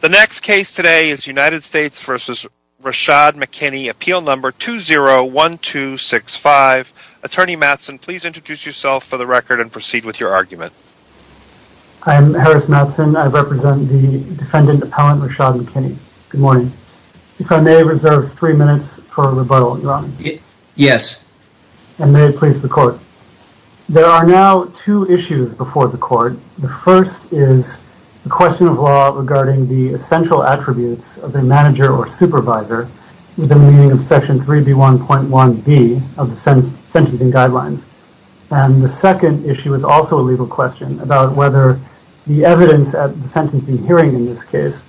The next case today is United States v. Rashad McKinney, Appeal No. 201265. Attorney Mattson, please introduce yourself for the record and proceed with your argument. I'm Harris Mattson. I represent the defendant appellant Rashad McKinney. Good morning. If I may reserve three minutes for rebuttal, Your Honor. Yes. And may it please the court. There are now two issues before the court. The first is a question of law regarding the essential attributes of a manager or supervisor within the meaning of Section 3B1.1b of the sentencing guidelines. And the second issue is also a legal question about whether the evidence at the sentencing hearing in this case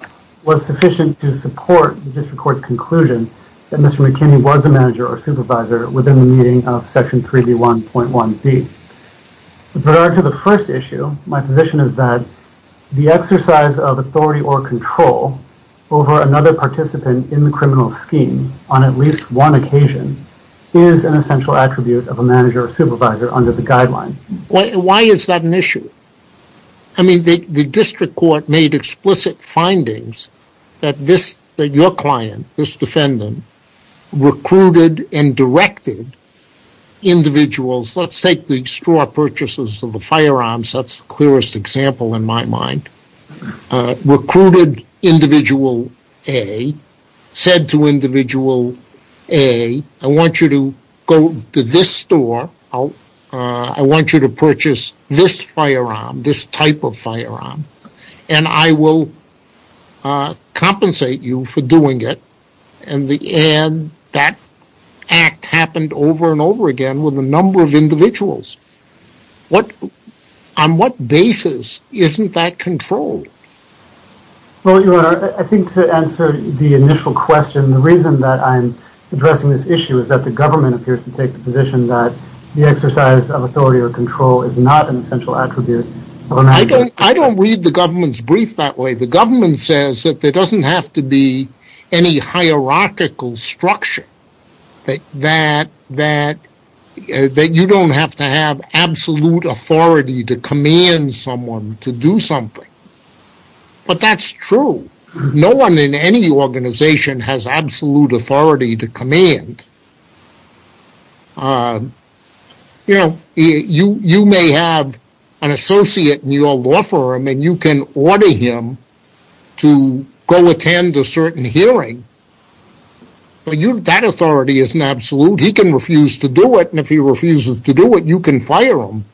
was sufficient to support the district court's conclusion that Mr. McKinney was a manager or supervisor within the meaning of Section 3B1.1b. With regard to the first issue, my position is that the exercise of authority or control over another participant in the criminal scheme on at least one occasion is an essential attribute of a manager or supervisor under the guideline. Why is that an issue? I mean, the district court made explicit findings that your client, this defendant, recruited and directed individuals. Let's take the straw purchases of the firearms. That's the clearest example in my mind. Recruited individual A said to individual A, I want you to go to this store. I want you to purchase this firearm, this type of firearm, and I will compensate you for doing it. And that act happened over and over again with a number of individuals. On what basis isn't that controlled? Well, Your Honor, I think to answer the initial question, the reason that I'm addressing this issue is that the government appears to take the position that the exercise of authority or control is not an essential attribute of a manager or supervisor. I don't read the government's brief that way. The government says that there doesn't have to be any hierarchical structure. That you don't have to have absolute authority to command someone to do something. But that's true. No one in any organization has absolute authority to command. You know, you may have an associate in your law firm and you can order him to go attend a certain hearing. But that authority isn't absolute. He can refuse to do it, and if he refuses to do it, you can fire him.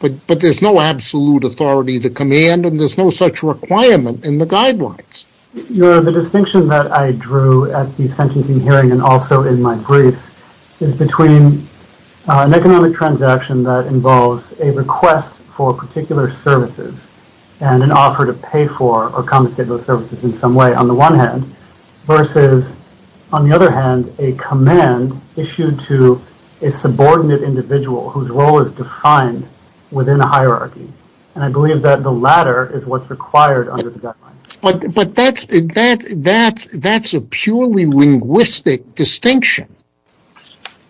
But there's no absolute authority to command and there's no such requirement in the guidelines. Your Honor, the distinction that I drew at the sentencing hearing and also in my briefs is between an economic transaction that involves a request for particular services and an offer to pay for or compensate those services in some way on the one hand versus, on the other hand, a command issued to a subordinate individual whose role is defined within a hierarchy. And I believe that the latter is what's required under the guidelines. But that's a purely linguistic distinction,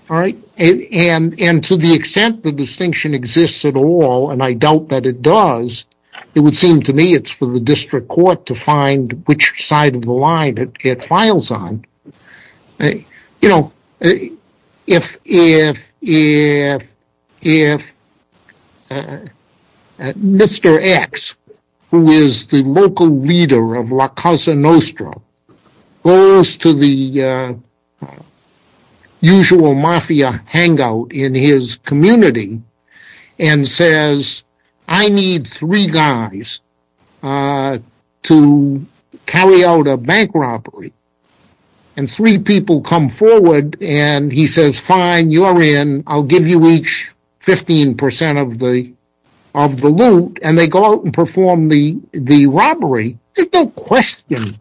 all right? And to the extent the distinction exists at all, and I doubt that it does, it would seem to me it's for the district court to find which side of the line it files on. You know, if Mr. X, who is the local leader of La Casa Nostra, goes to the usual mafia hangout in his community and says, I need three guys to carry out a bank robbery, and three people come forward and he says, fine, you're in, I'll give you each 15% of the loot, and they go out and perform the robbery, there's no question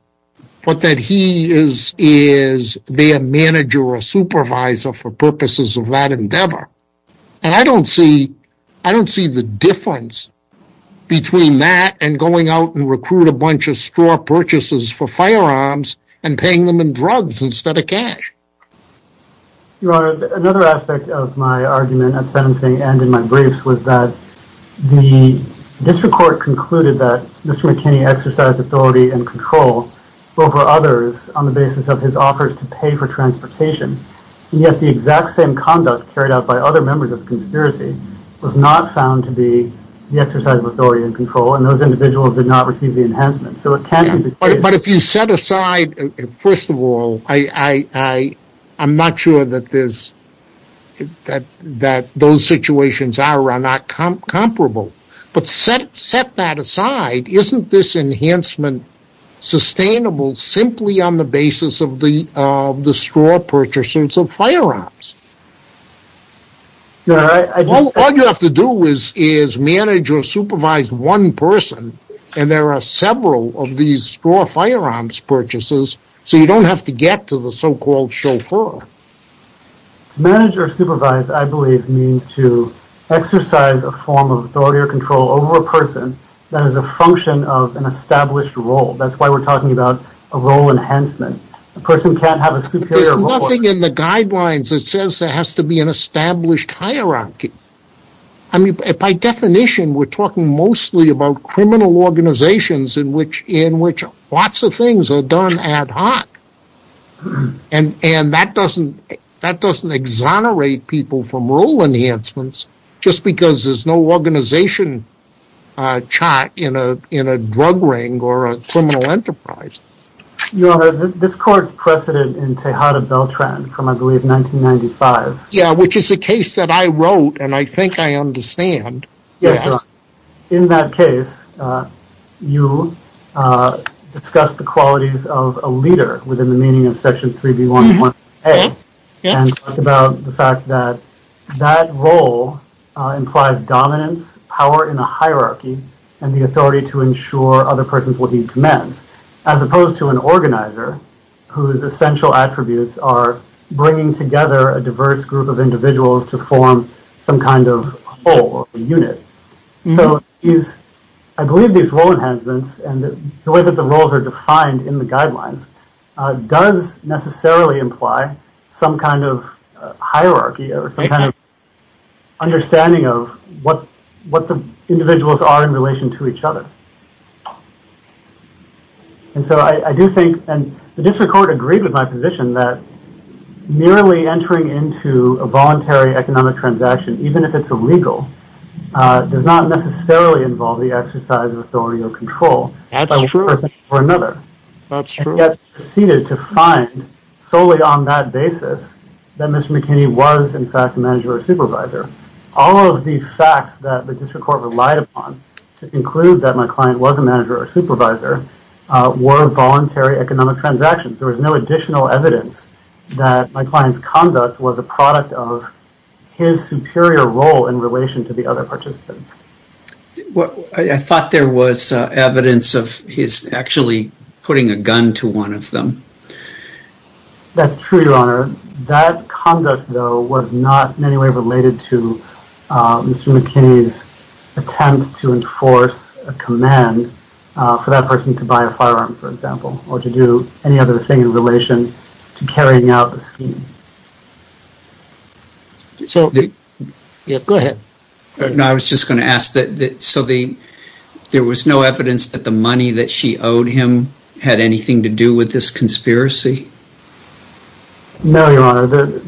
that he is their manager or supervisor for purposes of that endeavor. And I don't see the difference between that and going out and recruiting a bunch of store purchases for firearms and paying them in drugs instead of cash. Your Honor, another aspect of my argument at sentencing and in my briefs was that the district court concluded that Mr. McKinney exercised authority and control over others on the basis of his offers to pay for transportation, and yet the exact same conduct carried out by other members of the conspiracy was not found to be the exercise of authority and control, and those individuals did not receive the enhancement. But if you set aside, first of all, I'm not sure that those situations are or are not comparable, but set that aside, isn't this enhancement sustainable simply on the basis of the store purchases of firearms? All you have to do is manage or supervise one person, and there are several of these store firearms purchases, so you don't have to get to the so-called chauffeur. To manage or supervise, I believe, means to exercise a form of authority or control over a person that is a function of an established role. That's why we're talking about a role enhancement. A person can't have a superior role. There's nothing in the guidelines that says there has to be an established hierarchy. I mean, by definition, we're talking mostly about criminal organizations in which lots of things are done ad hoc, and that doesn't exonerate people from role enhancements just because there's no organization chart in a drug ring or a criminal enterprise. Your Honor, this court's precedent in Tejada Beltran from, I believe, 1995. Yeah, which is a case that I wrote, and I think I understand. Yes, Your Honor. In that case, you discussed the qualities of a leader within the meaning of Section 3B111A and talked about the fact that that role implies dominance, power in a hierarchy, and the authority to ensure other persons will heed commands, as opposed to an organizer whose essential attributes are bringing together a diverse group of individuals to form some kind of whole or a unit. So I believe these role enhancements and the way that the roles are defined in the guidelines does necessarily imply some kind of hierarchy or some kind of understanding of what the individuals are in relation to each other. And so I do think, and the district court agreed with my position, that merely entering into a voluntary economic transaction, even if it's illegal, does not necessarily involve the exercise of authority or control by one person or another. That's true. And yet proceeded to find solely on that basis that Mr. McKinney was, in fact, a manager or supervisor. All of the facts that the district court relied upon to conclude that my client was a manager or supervisor were voluntary economic transactions. There was no additional evidence that my client's conduct was a product of his superior role in relation to the other participants. I thought there was evidence of his actually putting a gun to one of them. That's true, Your Honor. That conduct, though, was not in any way related to Mr. McKinney's attempt to enforce a command for that person to buy a firearm, for example, or to do any other thing in relation to carrying out the scheme. Go ahead. I was just going to ask, so there was no evidence that the money that she owed him had anything to do with this conspiracy? No, Your Honor.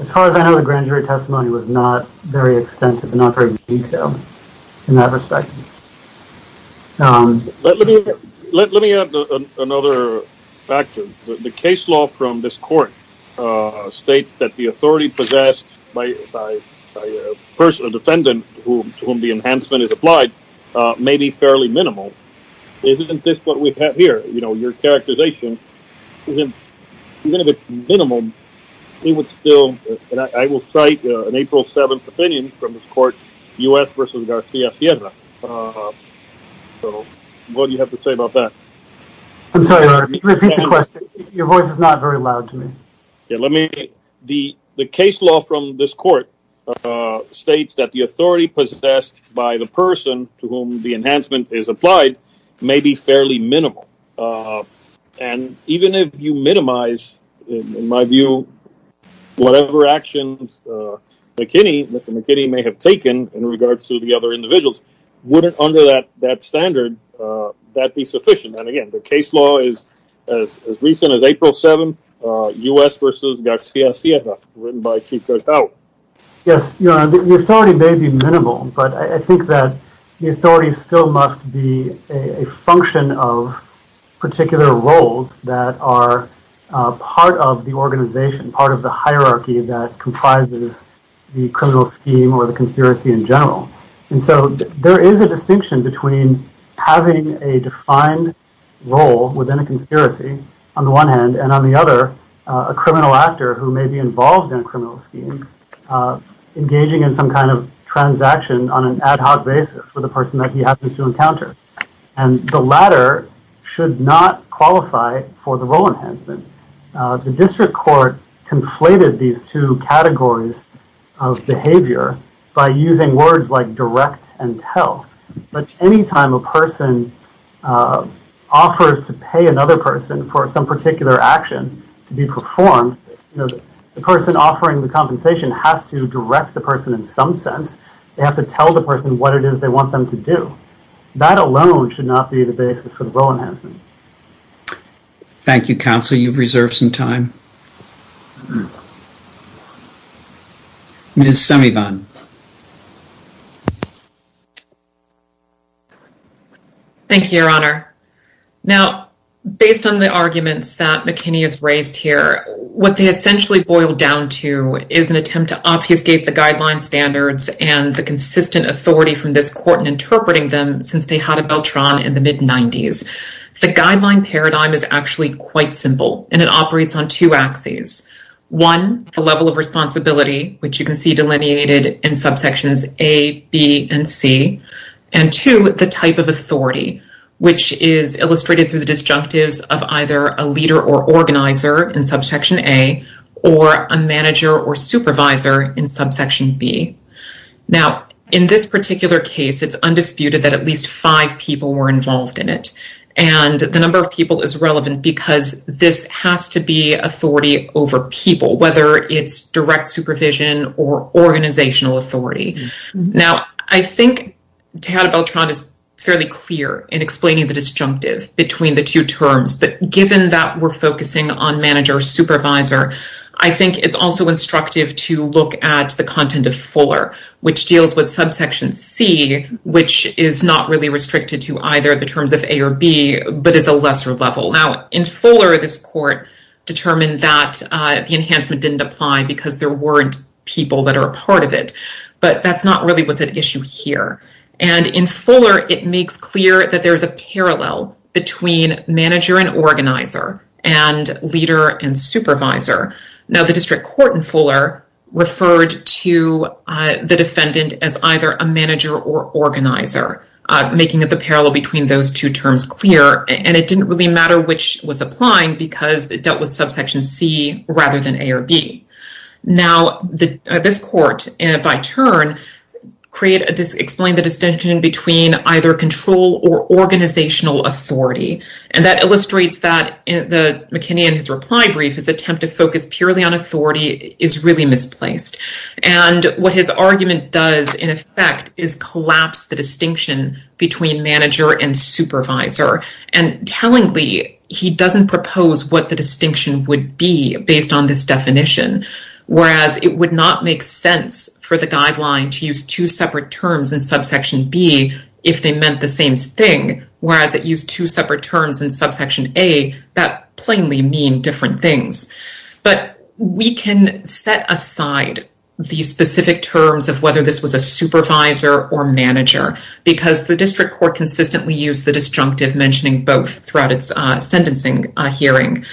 As far as I know, the grand jury testimony was not very extensive and not very detailed in that respect. Let me add another factor. The case law from this court states that the authority possessed by a defendant to whom the enhancement is applied may be fairly minimal. Isn't this what we have here? Your characterization, even if it's minimal, it would still... I will cite an April 7th opinion from this court, U.S. v. Garcia Sierra. What do you have to say about that? I'm sorry, Your Honor, repeat the question. Your voice is not very loud to me. The case law from this court states that the authority possessed by the person to whom the enhancement is applied may be fairly minimal. And even if you minimize, in my view, whatever actions McKinney may have taken in regards to the other individuals, wouldn't under that standard that be sufficient? And again, the case law is as recent as April 7th, U.S. v. Garcia Sierra, written by Chief Judge Powell. Yes, Your Honor, the authority may be minimal, but I think that the authority still must be a function of particular roles that are part of the organization, part of the hierarchy that comprises the criminal scheme or the conspiracy in general. And so there is a distinction between having a defined role within a conspiracy, on the one hand, and on the other, a criminal actor who may be involved in a criminal scheme engaging in some kind of transaction on an ad hoc basis with a person that he happens to encounter. And the latter should not qualify for the role enhancement. The district court conflated these two categories of behavior by using words like direct and tell. But any time a person offers to pay another person for some particular action to be performed, the person offering the compensation has to direct the person in some sense. They have to tell the person what it is they want them to do. That alone should not be the basis for the role enhancement. Thank you, Counsel. You've reserved some time. Ms. Semivan. Thank you, Your Honor. Now, based on the arguments that McKinney has raised here, what they essentially boil down to is an attempt to obfuscate the guideline standards and the consistent authority from this court in interpreting them since Tejada Beltran in the mid-90s. The guideline paradigm is actually quite simple, and it operates on two axes. One, the level of responsibility, which you can see delineated in subsections A, B, and C. And two, the type of authority, which is illustrated through the disjunctives of either a leader or organizer in subsection A or a manager or supervisor in subsection B. Now, in this particular case, it's undisputed that at least five people were involved in it. And the number of people is relevant because this has to be authority over people, whether it's direct supervision or organizational authority. Now, I think Tejada Beltran is fairly clear in explaining the disjunctive between the two terms. But given that we're focusing on manager-supervisor, I think it's also instructive to look at the content of Fuller, which deals with subsection C, which is not really restricted to either the terms of A or B, but is a lesser level. Now, in Fuller, this court determined that the enhancement didn't apply because there weren't people that are a part of it. But that's not really what's at issue here. And in Fuller, it makes clear that there's a parallel between manager and organizer and leader and supervisor. Now, the district court in Fuller referred to the defendant as either a manager or organizer, making the parallel between those two terms clear. And it didn't really matter which was applying because it dealt with subsection C rather than A or B. Now, this court, by turn, explained the distinction between either control or organizational authority. And that illustrates that McKinney, in his reply brief, his attempt to focus purely on authority is really misplaced. And what his argument does, in effect, is collapse the distinction between manager and supervisor. And tellingly, he doesn't propose what the distinction would be based on this definition, whereas it would not make sense for the guideline to use two separate terms in subsection B if they meant the same thing, whereas it used two separate terms in subsection A that plainly mean different things. But we can set aside the specific terms of whether this was a supervisor or manager because the district court consistently used the disjunctive mentioning both throughout its sentencing hearing.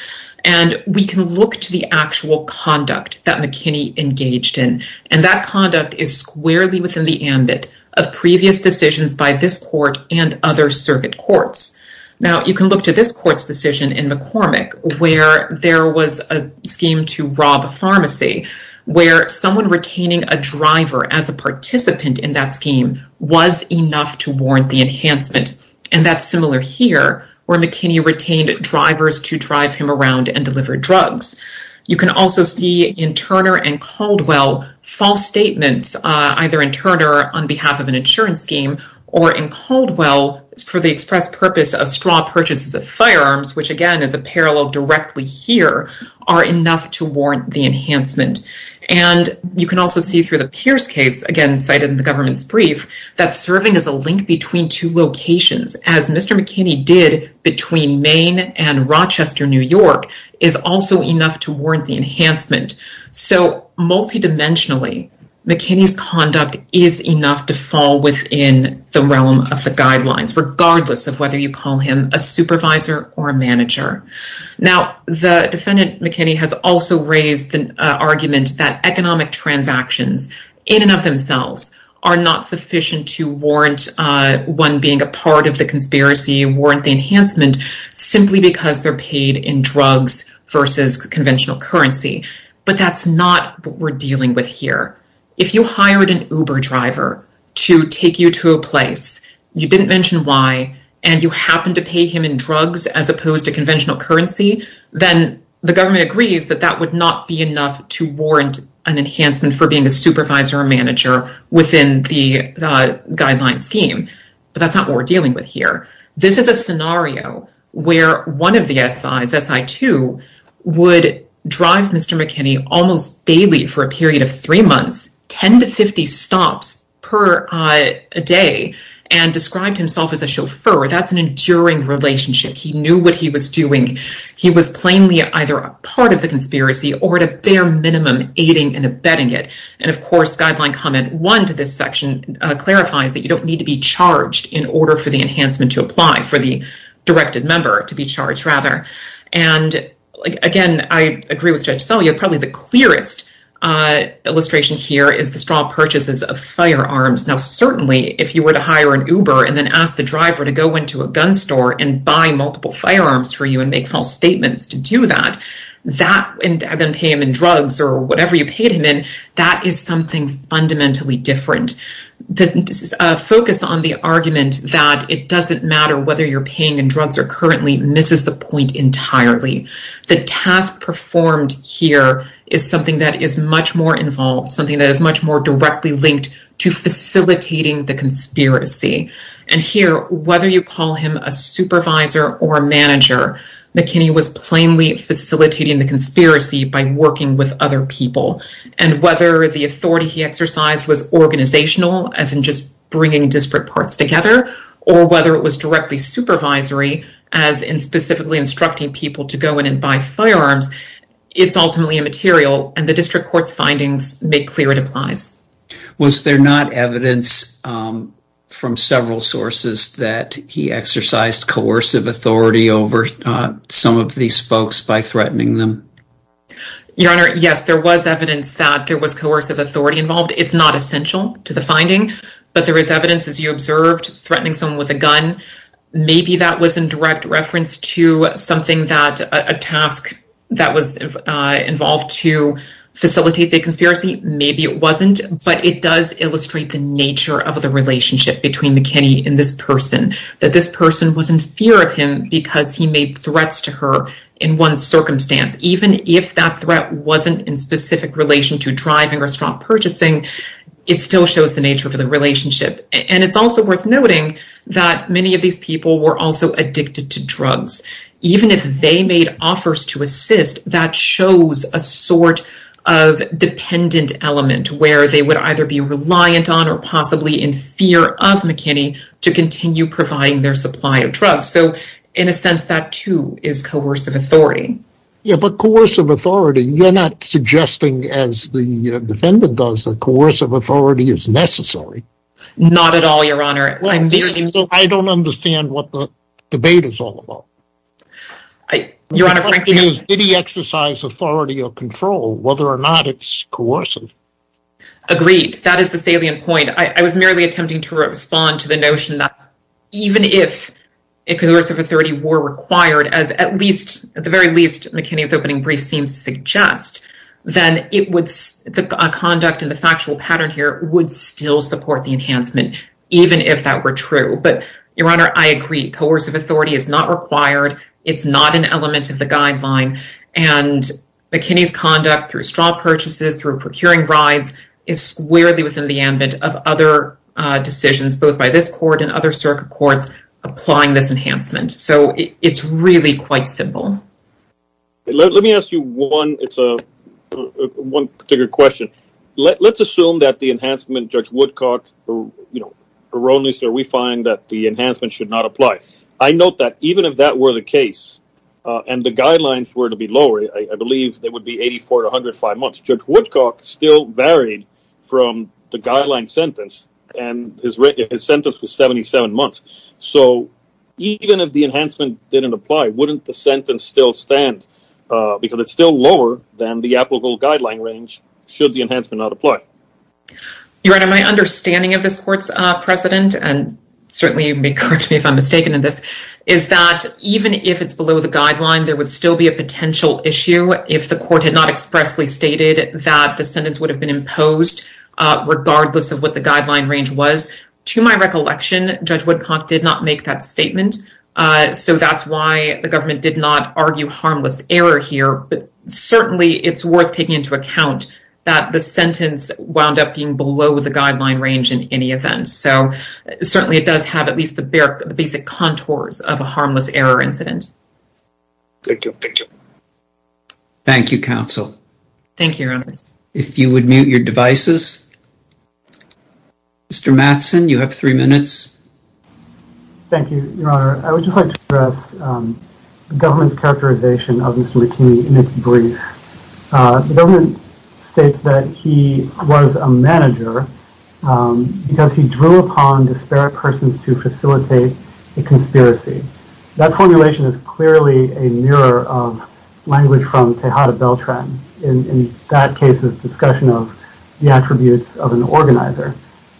And we can look to the actual conduct that McKinney engaged in. And that conduct is squarely within the ambit of previous decisions by this court and other circuit courts. Now, you can look to this court's decision in McCormick, where there was a scheme to rob a pharmacy, where someone retaining a driver as a participant in that scheme was enough to warrant the enhancement. And that's similar here, where McKinney retained drivers to drive him around and deliver drugs. You can also see in Turner and Caldwell, false statements either in Turner on behalf of an insurance scheme or in Caldwell for the express purpose of straw purchases of firearms, which again is a parallel directly here, are enough to warrant the enhancement. And you can also see through the Pierce case, again cited in the government's brief, that serving as a link between two locations, as Mr. McKinney did between Maine and Rochester, New York, is also enough to warrant the enhancement. So multidimensionally, McKinney's conduct is enough to fall within the realm of the guidelines, regardless of whether you call him a supervisor or a manager. Now, the defendant, McKinney, has also raised an argument that economic transactions in and of themselves are not sufficient to warrant one being a part of the conspiracy, warrant the enhancement, simply because they're paid in drugs versus conventional currency. But that's not what we're dealing with here. If you hired an Uber driver to take you to a place, you didn't mention why, and you happen to pay him in drugs as opposed to conventional currency, then the government agrees that that would not be enough to warrant an enhancement for being a supervisor or manager within the guideline scheme. But that's not what we're dealing with here. This is a scenario where one of the SIs, SI2, would drive Mr. McKinney almost daily for a period of three months, 10 to 50 stops per day, and described himself as a chauffeur. That's an enduring relationship. He knew what he was doing. He was plainly either a part of the conspiracy or, at a bare minimum, aiding and abetting it. And, of course, Guideline Comment 1 to this section clarifies that you don't need to be charged in order for the enhancement to apply, for the directed member to be charged, rather. And, again, I agree with Judge Selye. Probably the clearest illustration here is the straw purchases of firearms. Now, certainly, if you were to hire an Uber and then ask the driver to go into a gun store and buy multiple firearms for you and make false statements to do that, and then pay him in drugs or whatever you paid him in, that is something fundamentally different. The focus on the argument that it doesn't matter whether you're paying in drugs or currently misses the point entirely. The task performed here is something that is much more involved, something that is much more directly linked to facilitating the conspiracy. And here, whether you call him a supervisor or a manager, McKinney was plainly facilitating the conspiracy by working with other people. And whether the authority he exercised was organizational, as in just bringing disparate parts together, or whether it was directly supervisory, as in specifically instructing people to go in and buy firearms, it's ultimately immaterial. And the district court's findings make clear it applies. Was there not evidence from several sources that he exercised coercive authority over some of these folks by threatening them? Your Honor, yes, there was evidence that there was coercive authority involved. It's not essential to the finding. But there is evidence, as you observed, threatening someone with a gun. Maybe that was in direct reference to something that a task that was involved to facilitate the conspiracy. Maybe it wasn't. But it does illustrate the nature of the relationship between McKinney and this person, that this person was in fear of him because he made threats to her in one circumstance. Even if that threat wasn't in specific relation to driving or stock purchasing, it still shows the nature of the relationship. And it's also worth noting that many of these people were also addicted to drugs. Even if they made offers to assist, that shows a sort of dependent element, where they would either be reliant on or possibly in fear of McKinney to continue providing their supply of drugs. So, in a sense, that too is coercive authority. Yeah, but coercive authority, you're not suggesting, as the defendant does, that coercive authority is necessary. Not at all, Your Honor. I don't understand what the debate is all about. The question is, did he exercise authority or control, whether or not it's coercive? Agreed. That is the salient point. I was merely attempting to respond to the notion that even if coercive authority were required, as at the very least McKinney's opening brief seems to suggest, then the conduct and the factual pattern here would still support the enhancement, even if that were true. But, Your Honor, I agree. Coercive authority is not required. It's not an element of the guideline. And McKinney's conduct through straw purchases, through procuring rides, is squarely within the ambit of other decisions, both by this court and other circuit courts, applying this enhancement. So it's really quite simple. Let me ask you one particular question. Let's assume that the enhancement, Judge Woodcock, we find that the enhancement should not apply. I note that even if that were the case, and the guidelines were to be lower, I believe it would be 84 to 105 months. Judge Woodcock still varied from the guideline sentence, and his sentence was 77 months. So even if the enhancement didn't apply, wouldn't the sentence still stand? Because it's still lower than the applicable guideline range, should the enhancement not apply. Your Honor, my understanding of this court's precedent, and certainly you can correct me if I'm mistaken in this, is that even if it's below the guideline, there would still be a potential issue if the court had not expressly stated that the sentence would have been imposed, regardless of what the guideline range was. To my recollection, Judge Woodcock did not make that statement. So that's why the government did not argue harmless error here. But certainly it's worth taking into account that the sentence wound up being below the guideline range in any event. So certainly it does have at least the basic contours of a harmless error incident. Thank you. Thank you, Counsel. Thank you, Your Honors. If you would mute your devices. Mr. Mattson, you have three minutes. Thank you, Your Honor. I would just like to address the government's characterization of Mr. McKinney in its brief. The government states that he was a manager because he drew upon disparate persons to facilitate a conspiracy. That formulation is clearly a mirror of language from Tejada Beltran. In that case, it's a discussion of the attributes of an organizer.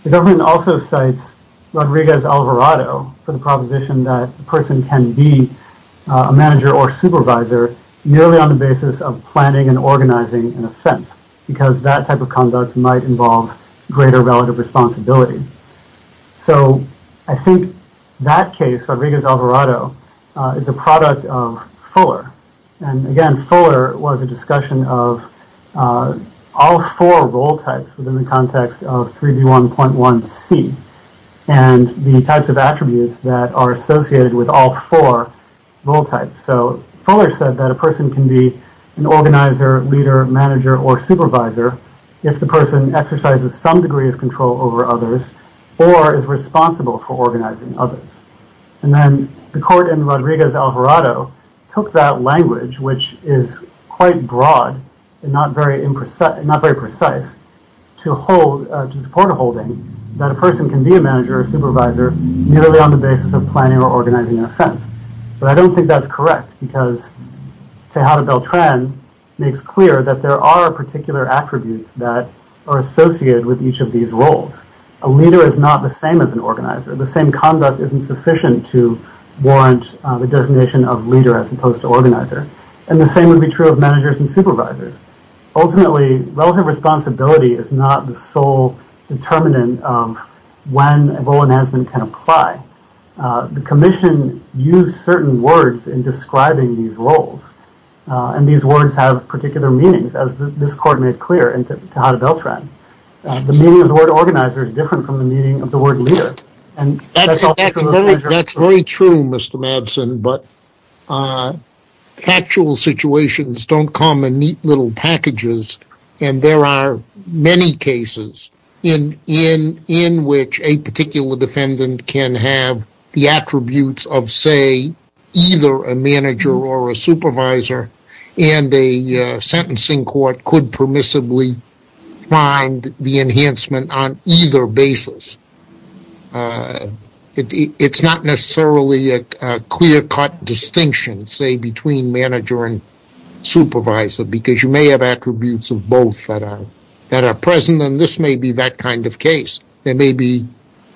The government also cites Rodriguez-Alvarado for the proposition that a person can be a manager or supervisor merely on the basis of planning and organizing an offense because that type of conduct might involve greater relative responsibility. So I think that case, Rodriguez-Alvarado, is a product of Fuller. And again, Fuller was a discussion of all four role types within the context of 3D1.1c and the types of attributes that are associated with all four role types. So Fuller said that a person can be an organizer, leader, manager, or supervisor if the person exercises some degree of control over others or is responsible for organizing others. And then the court in Rodriguez-Alvarado took that language, which is quite broad and not very precise, to support a holding that a person can be a manager or supervisor merely on the basis of planning or organizing an offense. But I don't think that's correct because Tejada Beltran makes clear that there are particular attributes that are associated with each of these roles. A leader is not the same as an organizer. The same conduct isn't sufficient to warrant the designation of leader as opposed to organizer. And the same would be true of managers and supervisors. Ultimately, relative responsibility is not the sole determinant of when a role announcement can apply. The commission used certain words in describing these roles, and these words have particular meanings, as this court made clear in Tejada Beltran. The meaning of the word organizer is different from the meaning of the word leader. That's very true, Mr. Madsen, but factual situations don't come in neat little packages, and there are many cases in which a particular defendant can have the attributes of, say, either a manager or a supervisor, and a sentencing court could permissibly find the enhancement on either basis. It's not necessarily a clear-cut distinction, say, between manager and supervisor, because you may have attributes of both that are present, and this may be that kind of case. There may be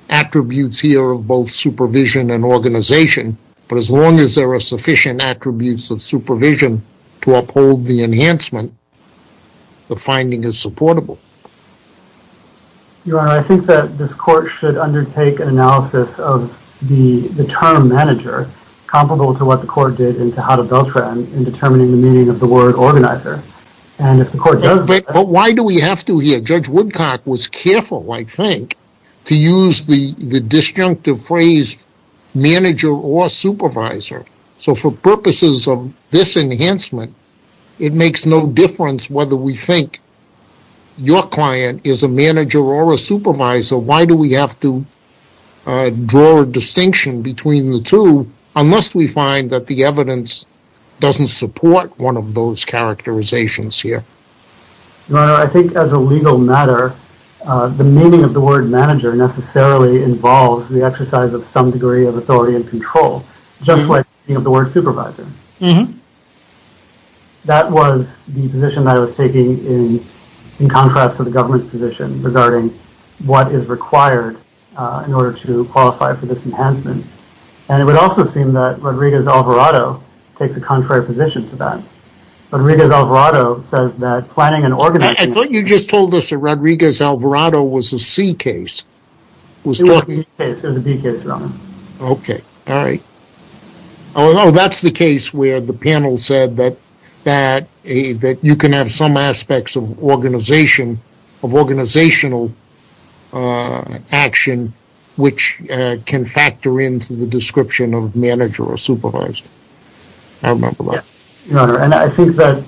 attributes here of both supervision and organization, but as long as there are sufficient attributes of supervision to uphold the enhancement, the finding is supportable. Your Honor, I think that this court should undertake an analysis of the term manager, comparable to what the court did in Tejada Beltran in determining the meaning of the word organizer. But why do we have to here? Judge Woodcock was careful, I think, to use the disjunctive phrase manager or supervisor. So for purposes of this enhancement, it makes no difference whether we think your client is a manager or a supervisor. So why do we have to draw a distinction between the two, unless we find that the evidence doesn't support one of those characterizations here? Your Honor, I think as a legal matter, the meaning of the word manager necessarily involves the exercise of some degree of authority and control, just like the meaning of the word supervisor. That was the position I was taking in contrast to the government's position regarding what is required in order to qualify for this enhancement. And it would also seem that Rodriguez-Alvarado takes a contrary position to that. Rodriguez-Alvarado says that planning and organizing... I thought you just told us that Rodriguez-Alvarado was a C case. It was a B case, Your Honor. Okay. All right. Oh, no, that's the case where the panel said that you can have some aspects of organizational action, which can factor into the description of manager or supervisor. I remember that. Your Honor, and I think that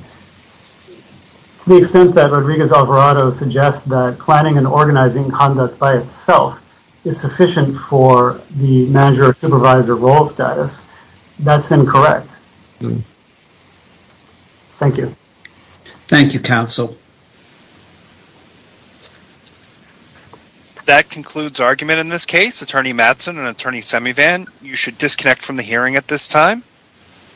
to the extent that Rodriguez-Alvarado suggests that planning and organizing conduct by itself is sufficient for the manager or supervisor role status, that's incorrect. Thank you. Thank you, counsel. That concludes argument in this case. Attorney Mattson and Attorney Semivan, you should disconnect from the hearing at this time.